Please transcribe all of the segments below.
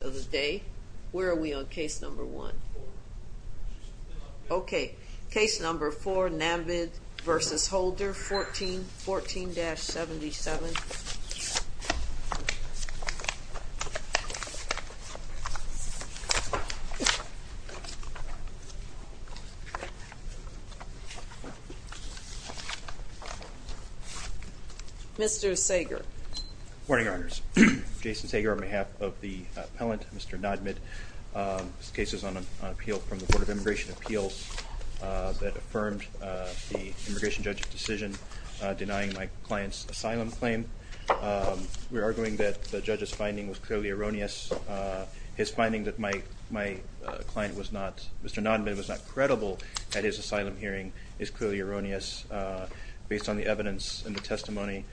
of the day. Where are we on case number one? Okay, case number four, Nadmid v. Holder, 14-77. Mr. Sager. Good morning, Your Honors. Jason Sager on behalf of the appellant, Mr. Nadmid. This case is on appeal from the Board of Immigration Appeals that affirmed the immigration judge's decision denying my client's asylum claim. We're arguing that the judge's finding was clearly erroneous. His finding that my my client was not, Mr. Nadmid, was not credible at his asylum hearing is clearly erroneous based on the evidence and the testimony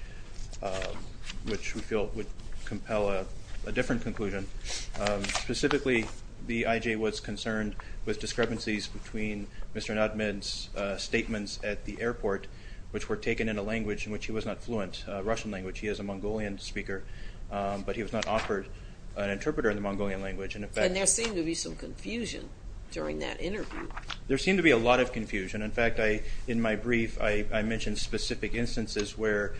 which we feel would compel a different conclusion. Specifically, the IJ was concerned with discrepancies between Mr. Nadmid and the airport, which were taken in a language in which he was not fluent, Russian language. He is a Mongolian speaker, but he was not offered an interpreter in the Mongolian language. And there seemed to be some confusion during that interview. There seemed to be a lot of confusion. In fact, in my brief, I mentioned specific instances where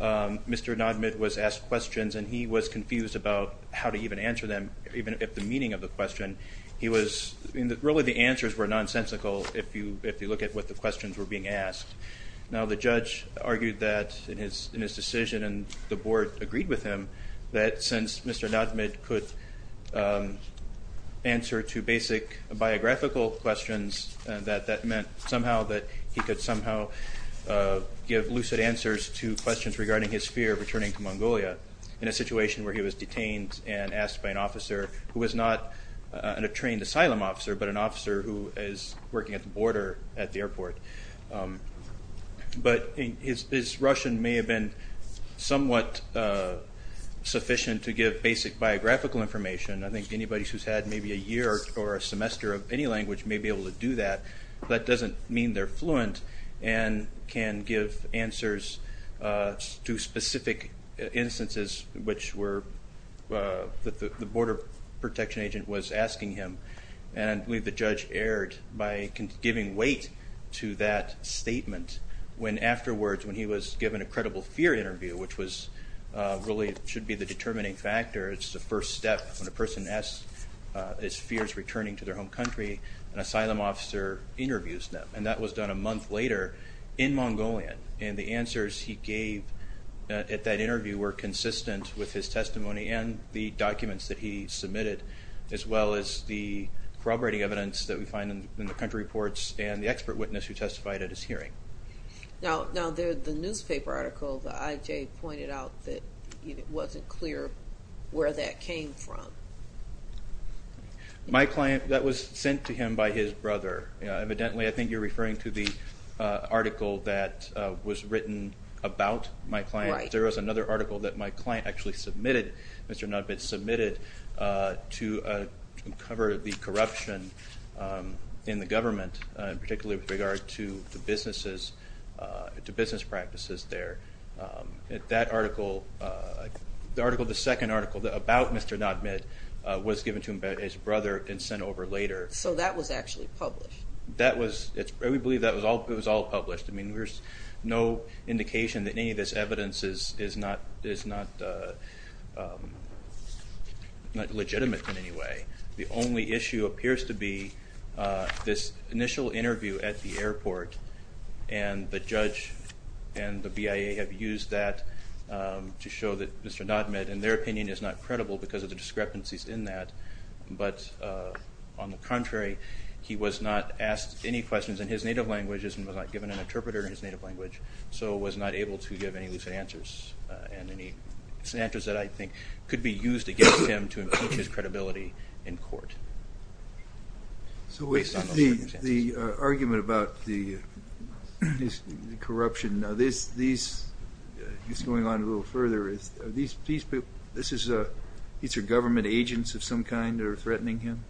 Mr. Nadmid was asked questions and he was confused about how to even answer them, even if the meaning of the question, he was, really the answers were nonsensical if you if you look at what the questions were being asked. Now, the judge argued that in his in his decision and the board agreed with him that since Mr. Nadmid could answer to basic biographical questions that that meant somehow that he could somehow give lucid answers to questions regarding his fear of returning to Mongolia in a situation where he was detained and asked by an officer who was not an trained asylum officer, but an officer who is working at the border at the airport. But his Russian may have been somewhat sufficient to give basic biographical information. I think anybody who's had maybe a year or a semester of any language may be able to do that. That doesn't mean they're fluent and can give answers to specific instances which were that the border protection agent was asking him. And I believe the judge erred by giving weight to that statement when afterwards when he was given a credible fear interview, which was really should be the determining factor. It's the first step when a person asks his fears returning to their home country, an asylum officer interviews them. And that was done a month later in Mongolian. And the answers he gave at that interview were consistent with his testimony and the documents that he submitted, as well as the corroborating evidence that we find in the country reports and the expert witness who testified at his hearing. Now the newspaper article the IJ pointed out that it wasn't clear where that came from. My client, that was sent to him by his brother. Evidently I think you're referring to the article that was written about my client. There was another article that my client actually submitted, Mr. Nodmit, submitted to cover the corruption in the government, particularly with regard to the businesses, to business practices there. That article, the article, the second article about Mr. Nodmit was given to him by his brother and sent over later. So that was actually published? That was, we believe that was all, it was all published. I mean there's no indication that any of this evidence is not legitimate in any way. The only issue appears to be this initial interview at the airport and the judge and the BIA have used that to show that Mr. Nodmit, in their opinion, is not credible because of the discrepancies in that. But on the contrary, he was not asked any questions in his native languages and was not given an interpreter in his native language, so was not able to give any lucid answers and any answers that I think could be used against him to improve his credibility in court. So the argument about the corruption, now this is going on a little further. Are these people, these are government agents of some kind that are threatening him?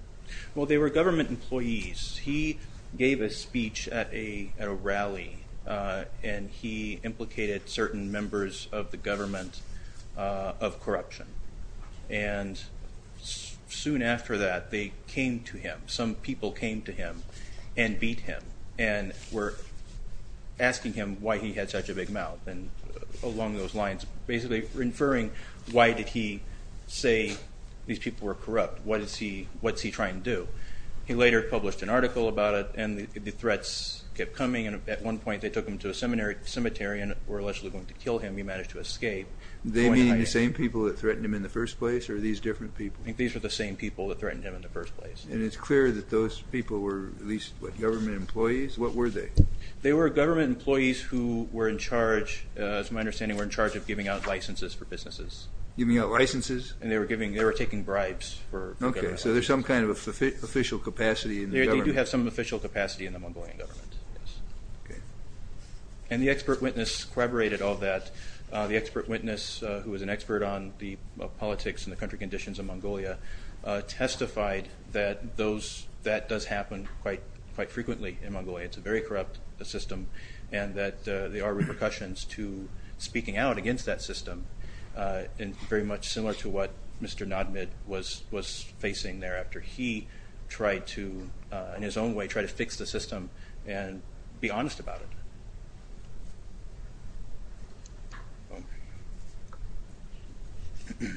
Well they were government employees. He gave a speech at a rally and he implicated certain members of the government of corruption. And soon after that they came to him, some people came to him and beat him and were asking him why he had such a big mouth and along those lines basically referring why did he say these people were going to kill him. He later published an article about it and the threats kept coming and at one point they took him to a cemetery and were allegedly going to kill him. He managed to escape. They mean the same people that threatened him in the first place or are these different people? I think these are the same people that threatened him in the first place. And it's clear that those people were at least government employees? What were they? They were government employees who were in charge, to my understanding, were in charge of giving out licenses for businesses. Giving out licenses? And they were taking bribes. Okay so there's some kind of official capacity in the government? They do have some official capacity in the Mongolian government. And the expert witness corroborated all that. The expert witness, who was an expert on the politics and the country conditions in Mongolia, testified that that does happen quite frequently in Mongolia. It's a very corrupt system and that there are repercussions to speaking out against that system and very much similar to what Mr. Nadmid was facing thereafter. He tried to, in his own way, try to fix the system and be honest about it. You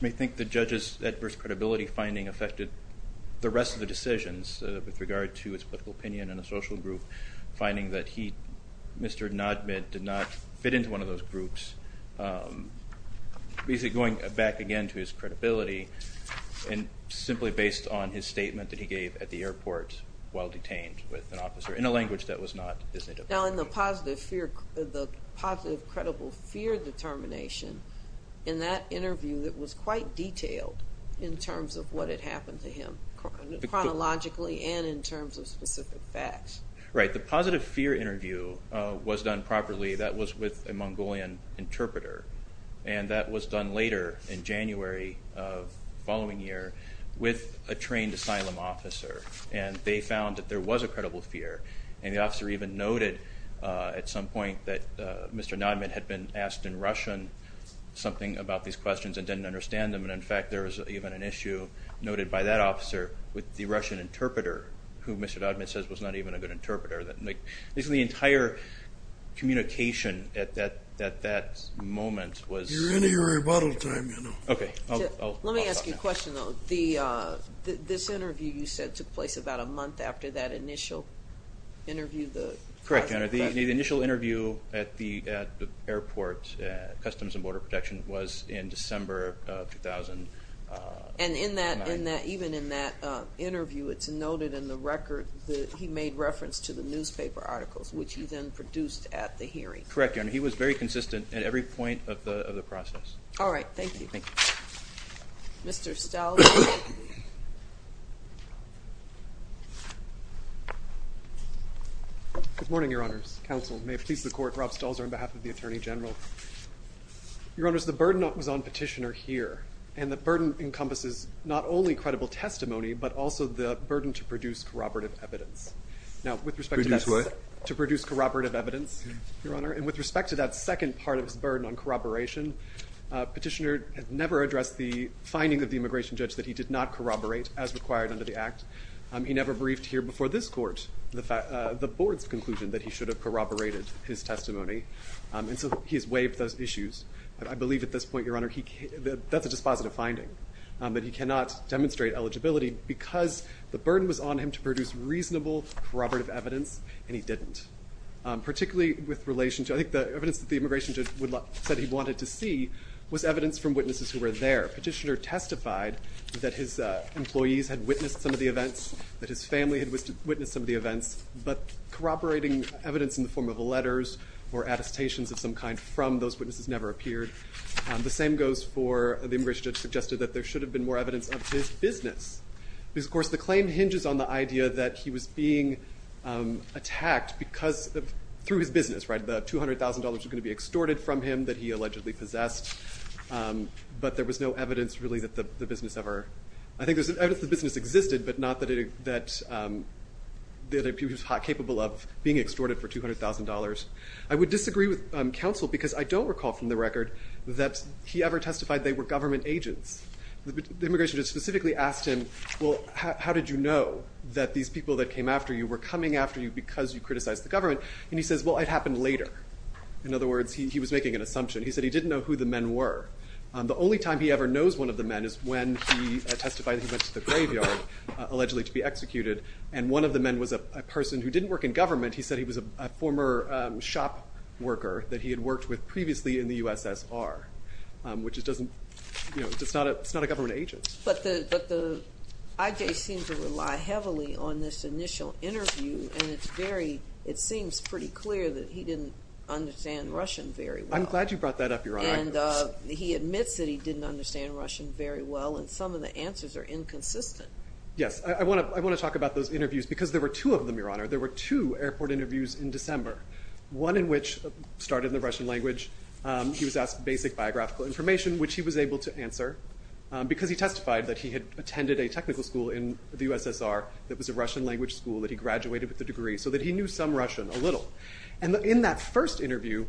may think the judge's adverse credibility finding affected the rest of the decisions with regard to his political opinion and the social group. Finding that he, Mr. Nadmid, did not fit into one of those groups. Basically going back again to his credibility and simply based on his statement that he gave at the airport while detained with an officer in a language that was not Disney-defined. Now in the positive fear, the positive credible fear determination in that interview that was quite detailed in terms of what had happened to him chronologically and in terms of specific facts. Right, the positive fear interview was done properly. That was with a Mongolian interpreter and that was done later in January of following year with a trained asylum officer and they found that there was a credible fear and the officer even noted at some point that Mr. Nadmid had been asked in Russian something about these questions and didn't understand them and in fact there was even an issue noted by that officer with the Russian interpreter who Mr. Nadmid says was not even a good interpreter. Basically the entire communication at that moment was... You're in your rebuttal time, you know. Okay, I'll stop now. Let me ask you a question though. This interview you said took place about a month after that initial interview. Correct, the initial interview at the airport, Customs and Border Protection, was in December of 2009. And in that, interview it's noted in the record that he made reference to the newspaper articles which he then produced at the hearing. Correct, Your Honor. He was very consistent at every point of the process. All right, thank you. Mr. Stahls. Good morning, Your Honors. Counsel, may it please the Court, Rob Stahls on behalf of the Attorney General. Your Honors, the burden was on Petitioner here and the testimony, but also the burden to produce corroborative evidence. Now with respect to that... Produce what? To produce corroborative evidence, Your Honor. And with respect to that second part of his burden on corroboration, Petitioner had never addressed the findings of the immigration judge that he did not corroborate as required under the Act. He never briefed here before this Court the Board's conclusion that he should have corroborated his testimony. And so he has waived those issues. I believe at this point, Your Honor, that's a dispositive finding. But he cannot demonstrate eligibility because the burden was on him to produce reasonable corroborative evidence, and he didn't. Particularly with relation to... I think the evidence that the immigration judge said he wanted to see was evidence from witnesses who were there. Petitioner testified that his employees had witnessed some of the events, that his family had witnessed some of the events, but corroborating evidence in the form of letters or attestations of some kind from those witnesses never appeared. The same goes for... The immigration judge suggested that there should have been more evidence of his business. Because, of course, the claim hinges on the idea that he was being attacked because... through his business, right? The $200,000 was going to be extorted from him that he allegedly possessed. But there was no evidence, really, that the business ever... I think there's evidence that the business existed, but not that it... that he was capable of being extorted for $200,000. I would disagree with counsel because I don't recall from the record that he ever testified they were government agents. The immigration judge specifically asked him, well, how did you know that these people that came after you were coming after you because you criticized the government? And he says, well, it happened later. In other words, he was making an assumption. He said he didn't know who the men were. The only time he ever knows one of the men is when he testified he went to the graveyard, allegedly to be executed, and one of the men was a person who didn't work in government. He said he was a former shop worker that he had worked with previously in the USSR, which it doesn't, you know, it's not a government agent. But the IJ seems to rely heavily on this initial interview, and it's very, it seems pretty clear that he didn't understand Russian very well. I'm glad you brought that up, Your Honor. And he admits that he didn't understand Russian very well, and some of the answers are inconsistent. Yes, I want to talk about those interviews because there were two of them, Your Honor. There were two airport interviews in December, one in which started in the Russian language. He was asked basic biographical information, which he was able to answer, because he testified that he had attended a technical school in the USSR that was a Russian language school, that he graduated with the degree, so that he knew some Russian, a little. And in that first interview,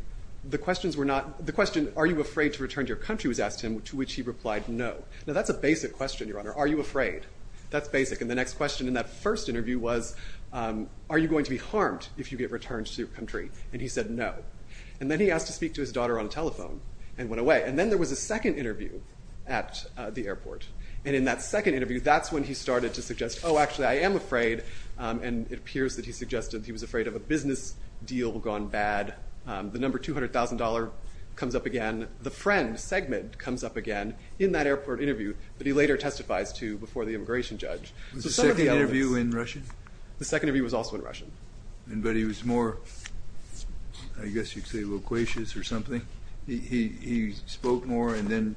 the questions were not, the question, are you afraid to return to your country, was asked him, to which he replied no. Now that's a basic question, Your Honor. Are you afraid? That's basic. And the next question in that first interview was, are you going to be harmed if you get returned to your country? And he said no. And then he asked to speak to his daughter on a telephone, and went away. And then there was a second interview at the airport, and in that second interview, that's when he started to suggest, oh actually, I am afraid, and it appears that he suggested he was afraid of a business deal gone bad. The number $200,000 comes up again. The friend, Segmed, comes up again in that airport interview that he later testifies to before the immigration judge. Was the second interview in I guess you could say loquacious or something? He spoke more and then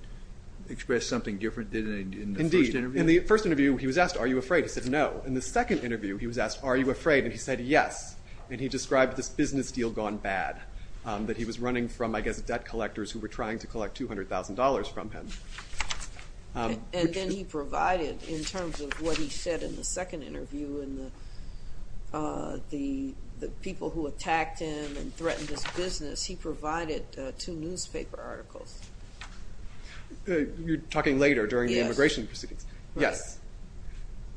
expressed something different than in the first interview? Indeed. In the first interview, he was asked, are you afraid? He said no. In the second interview, he was asked, are you afraid? And he said yes. And he described this business deal gone bad, that he was running from, I guess, debt collectors who were trying to collect $200,000 from him. And then he provided, in terms of what he said in the second interview, and the people who owned the business, he provided two newspaper articles. You're talking later, during the immigration proceedings. Yes.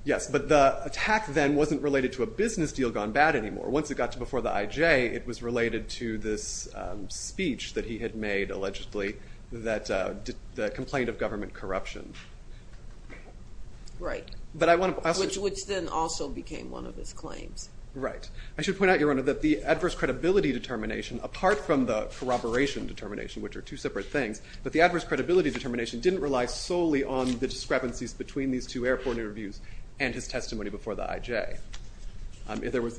Yes, but the attack then wasn't related to a business deal gone bad anymore. Once it got to before the IJ, it was related to this speech that he had made, allegedly, that the complaint of government corruption. Right. But I want to... Which then also became one of his claims. Right. I should point out, Your Honor, that the adverse credibility determination, apart from the corroboration determination, which are two separate things, but the adverse credibility determination didn't rely solely on the discrepancies between these two airport interviews and his testimony before the IJ.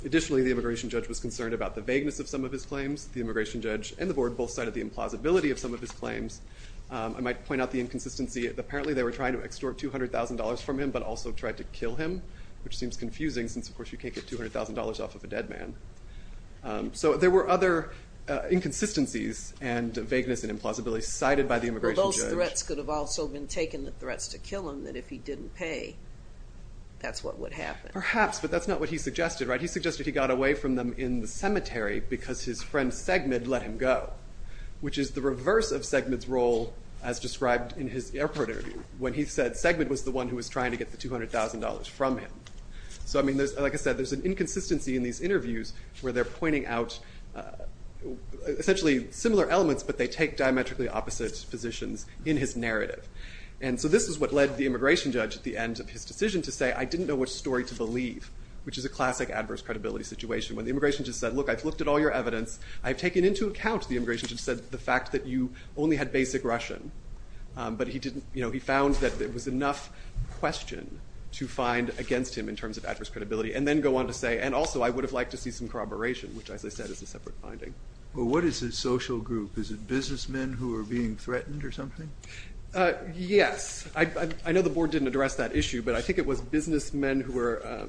Additionally, the immigration judge was concerned about the vagueness of some of his claims. The immigration judge and the board both cited the implausibility of some of his claims. I might point out the inconsistency. Apparently, they were trying to extort $200,000 from him, but also tried to kill him, which seems confusing since, of course, you can't get $200,000 off of a dead man. So there were other inconsistencies and vagueness and implausibility cited by the immigration judge. Well, those threats could have also been taken, the threats to kill him, that if he didn't pay, that's what would happen. Perhaps, but that's not what he suggested. Right. He suggested he got away from them in the cemetery because his friend Segmed let him go, which is the reverse of Segmed's role, as described in his airport interview, when he said Segmed was the one who was trying to get the $200,000 from him. So, I mean, there's, like I said, there's an inconsistency in these interviews where they're pointing out essentially similar elements, but they take diametrically opposite positions in his narrative. And so this is what led the immigration judge at the end of his decision to say, I didn't know which story to believe, which is a classic adverse credibility situation. When the immigration judge said, look, I've looked at all your evidence, I've taken into account, the immigration judge said, the fact that you only had basic Russian, but he didn't, you know, he found that it was enough question to find against him in terms of adverse credibility, and then go on to say, and also I would have liked to see some corroboration, which as I said is a separate finding. Well, what is a social group? Is it businessmen who are being threatened or something? Yes. I know the board didn't address that issue, but I think it was businessmen who were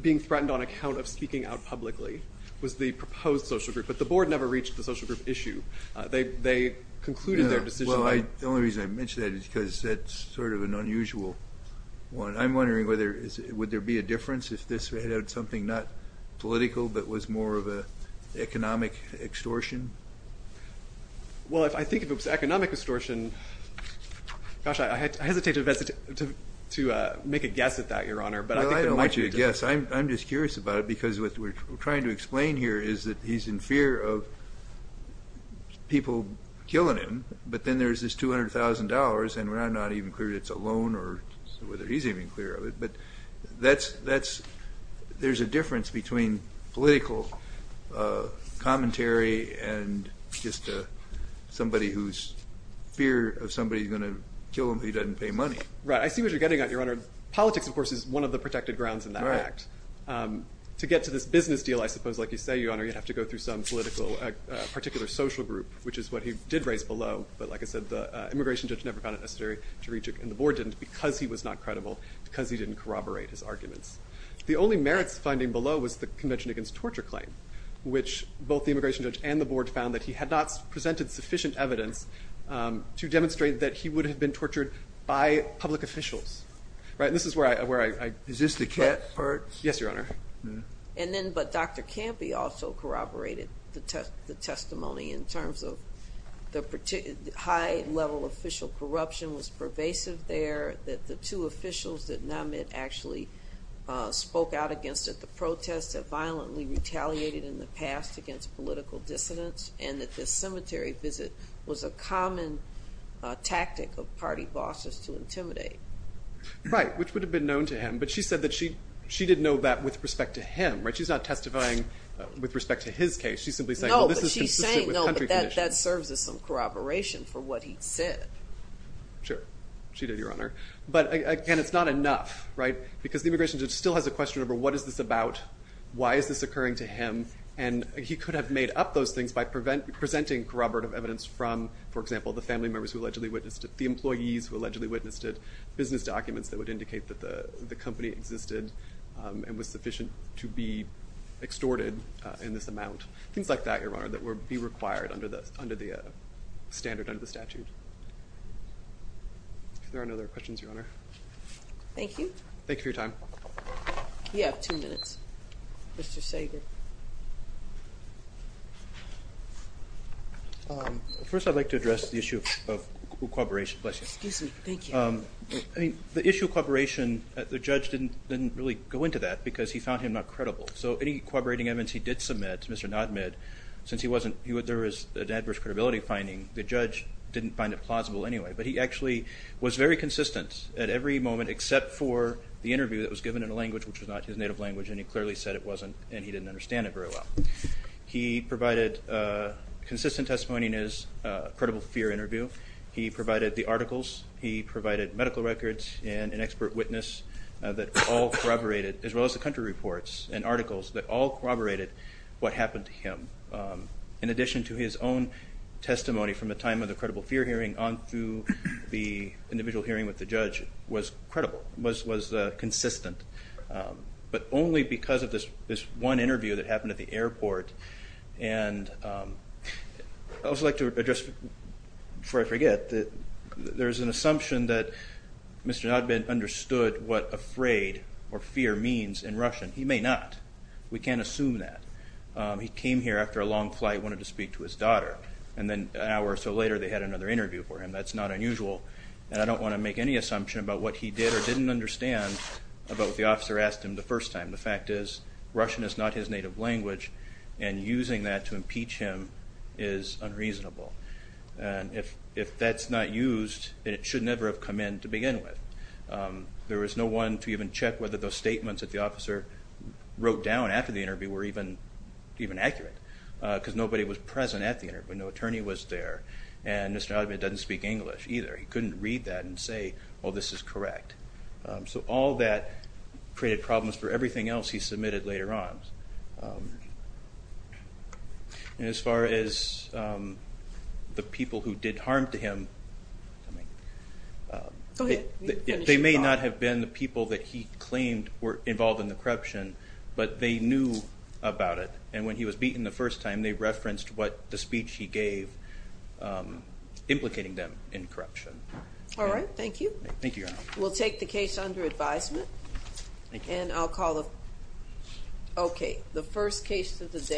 being threatened on account of speaking out publicly was the proposed social group, but the board never reached the social group issue. They concluded their decision. Well, the only reason I mention that is because that's sort of an if this had had something not political, but was more of a economic extortion? Well, I think if it was economic extortion, gosh, I hesitate to make a guess at that, Your Honor, but I don't want you to guess. I'm just curious about it, because what we're trying to explain here is that he's in fear of people killing him, but then there's this $200,000, and we're not even clear it's a loan or whether he's even clear of it, but there's a difference between political commentary and just somebody who's fear of somebody who's gonna kill him if he doesn't pay money. Right, I see what you're getting at, Your Honor. Politics, of course, is one of the protected grounds in that act. To get to this business deal, I suppose, like you say, Your Honor, you have to go through some political, particular social group, which is what he did raise below, but like I said, the immigration judge never found it necessary to reach it, and the board didn't, because he was not credible, because he didn't corroborate his arguments. The only merits finding below was the Convention Against Torture Claim, which both the immigration judge and the board found that he had not presented sufficient evidence to demonstrate that he would have been tortured by public officials. Right, and this is where I... Is this the cat part? Yes, Your Honor. And then, but Dr. Campy also corroborated the testimony in terms of the high-level official corruption was pervasive there, that the two officials that Namit actually spoke out against it, the protests that violently retaliated in the past against political dissidents, and that this cemetery visit was a common tactic of party bosses to intimidate. Right, which would have been known to him, but she said that she didn't know that with respect to him, right? She's not testifying with respect to his case. She's simply saying, well, this is consistent with country conditions. No, but she's saying, no, but that serves as some corroboration for what he said. Sure, she did, Your Honor. But again, it's not enough, right? Because the immigration judge still has a question of, what is this about? Why is this occurring to him? And he could have made up those things by presenting corroborative evidence from, for example, the family members who allegedly witnessed it, the employees who allegedly witnessed it, business documents that would indicate that the amount, things like that, Your Honor, that would be required under the standard under the statute. If there are no other questions, Your Honor. Thank you. Thank you for your time. You have two minutes. Mr. Sager. First, I'd like to address the issue of corroboration. Excuse me, thank you. I mean, the issue of corroboration, the judge didn't really go into that because he found him not credible. So any Mr. Nadmid, since he wasn't, there was an adverse credibility finding, the judge didn't find it plausible anyway. But he actually was very consistent at every moment except for the interview that was given in a language which was not his native language, and he clearly said it wasn't, and he didn't understand it very well. He provided consistent testimony in his credible fear interview. He provided the articles. He provided medical records and an expert witness that all corroborated, as well as the country reports and articles, that all happened to him. In addition to his own testimony from the time of the credible fear hearing on through the individual hearing with the judge was credible, was consistent. But only because of this one interview that happened at the airport. And I'd also like to address, before I forget, there's an assumption that Mr. Nadmid understood what afraid or fear means in Russian. He may not. We can't assume that. He came here after a long flight, wanted to speak to his daughter, and then an hour or so later they had another interview for him. That's not unusual, and I don't want to make any assumption about what he did or didn't understand about what the officer asked him the first time. The fact is, Russian is not his native language, and using that to impeach him is unreasonable. And if that's not used, it should never have come in to begin with. There was no one to even check whether those statements that the officer wrote down after the interview were even accurate, because nobody was present at the interview. No attorney was there, and Mr. Nadmid doesn't speak English either. He couldn't read that and say, oh this is correct. So all that created problems for everything else he submitted later on. And as far as the people who did harm to him, they may not have been the people that he claimed were involved in the corruption, but they knew about it. And when he was beaten the first time, they referenced what the speech he gave implicating them in corruption. All right, thank you. Thank you, Your Honor. We'll take the case under advisement. Thank you. And I'll call the, okay, the first case of the day.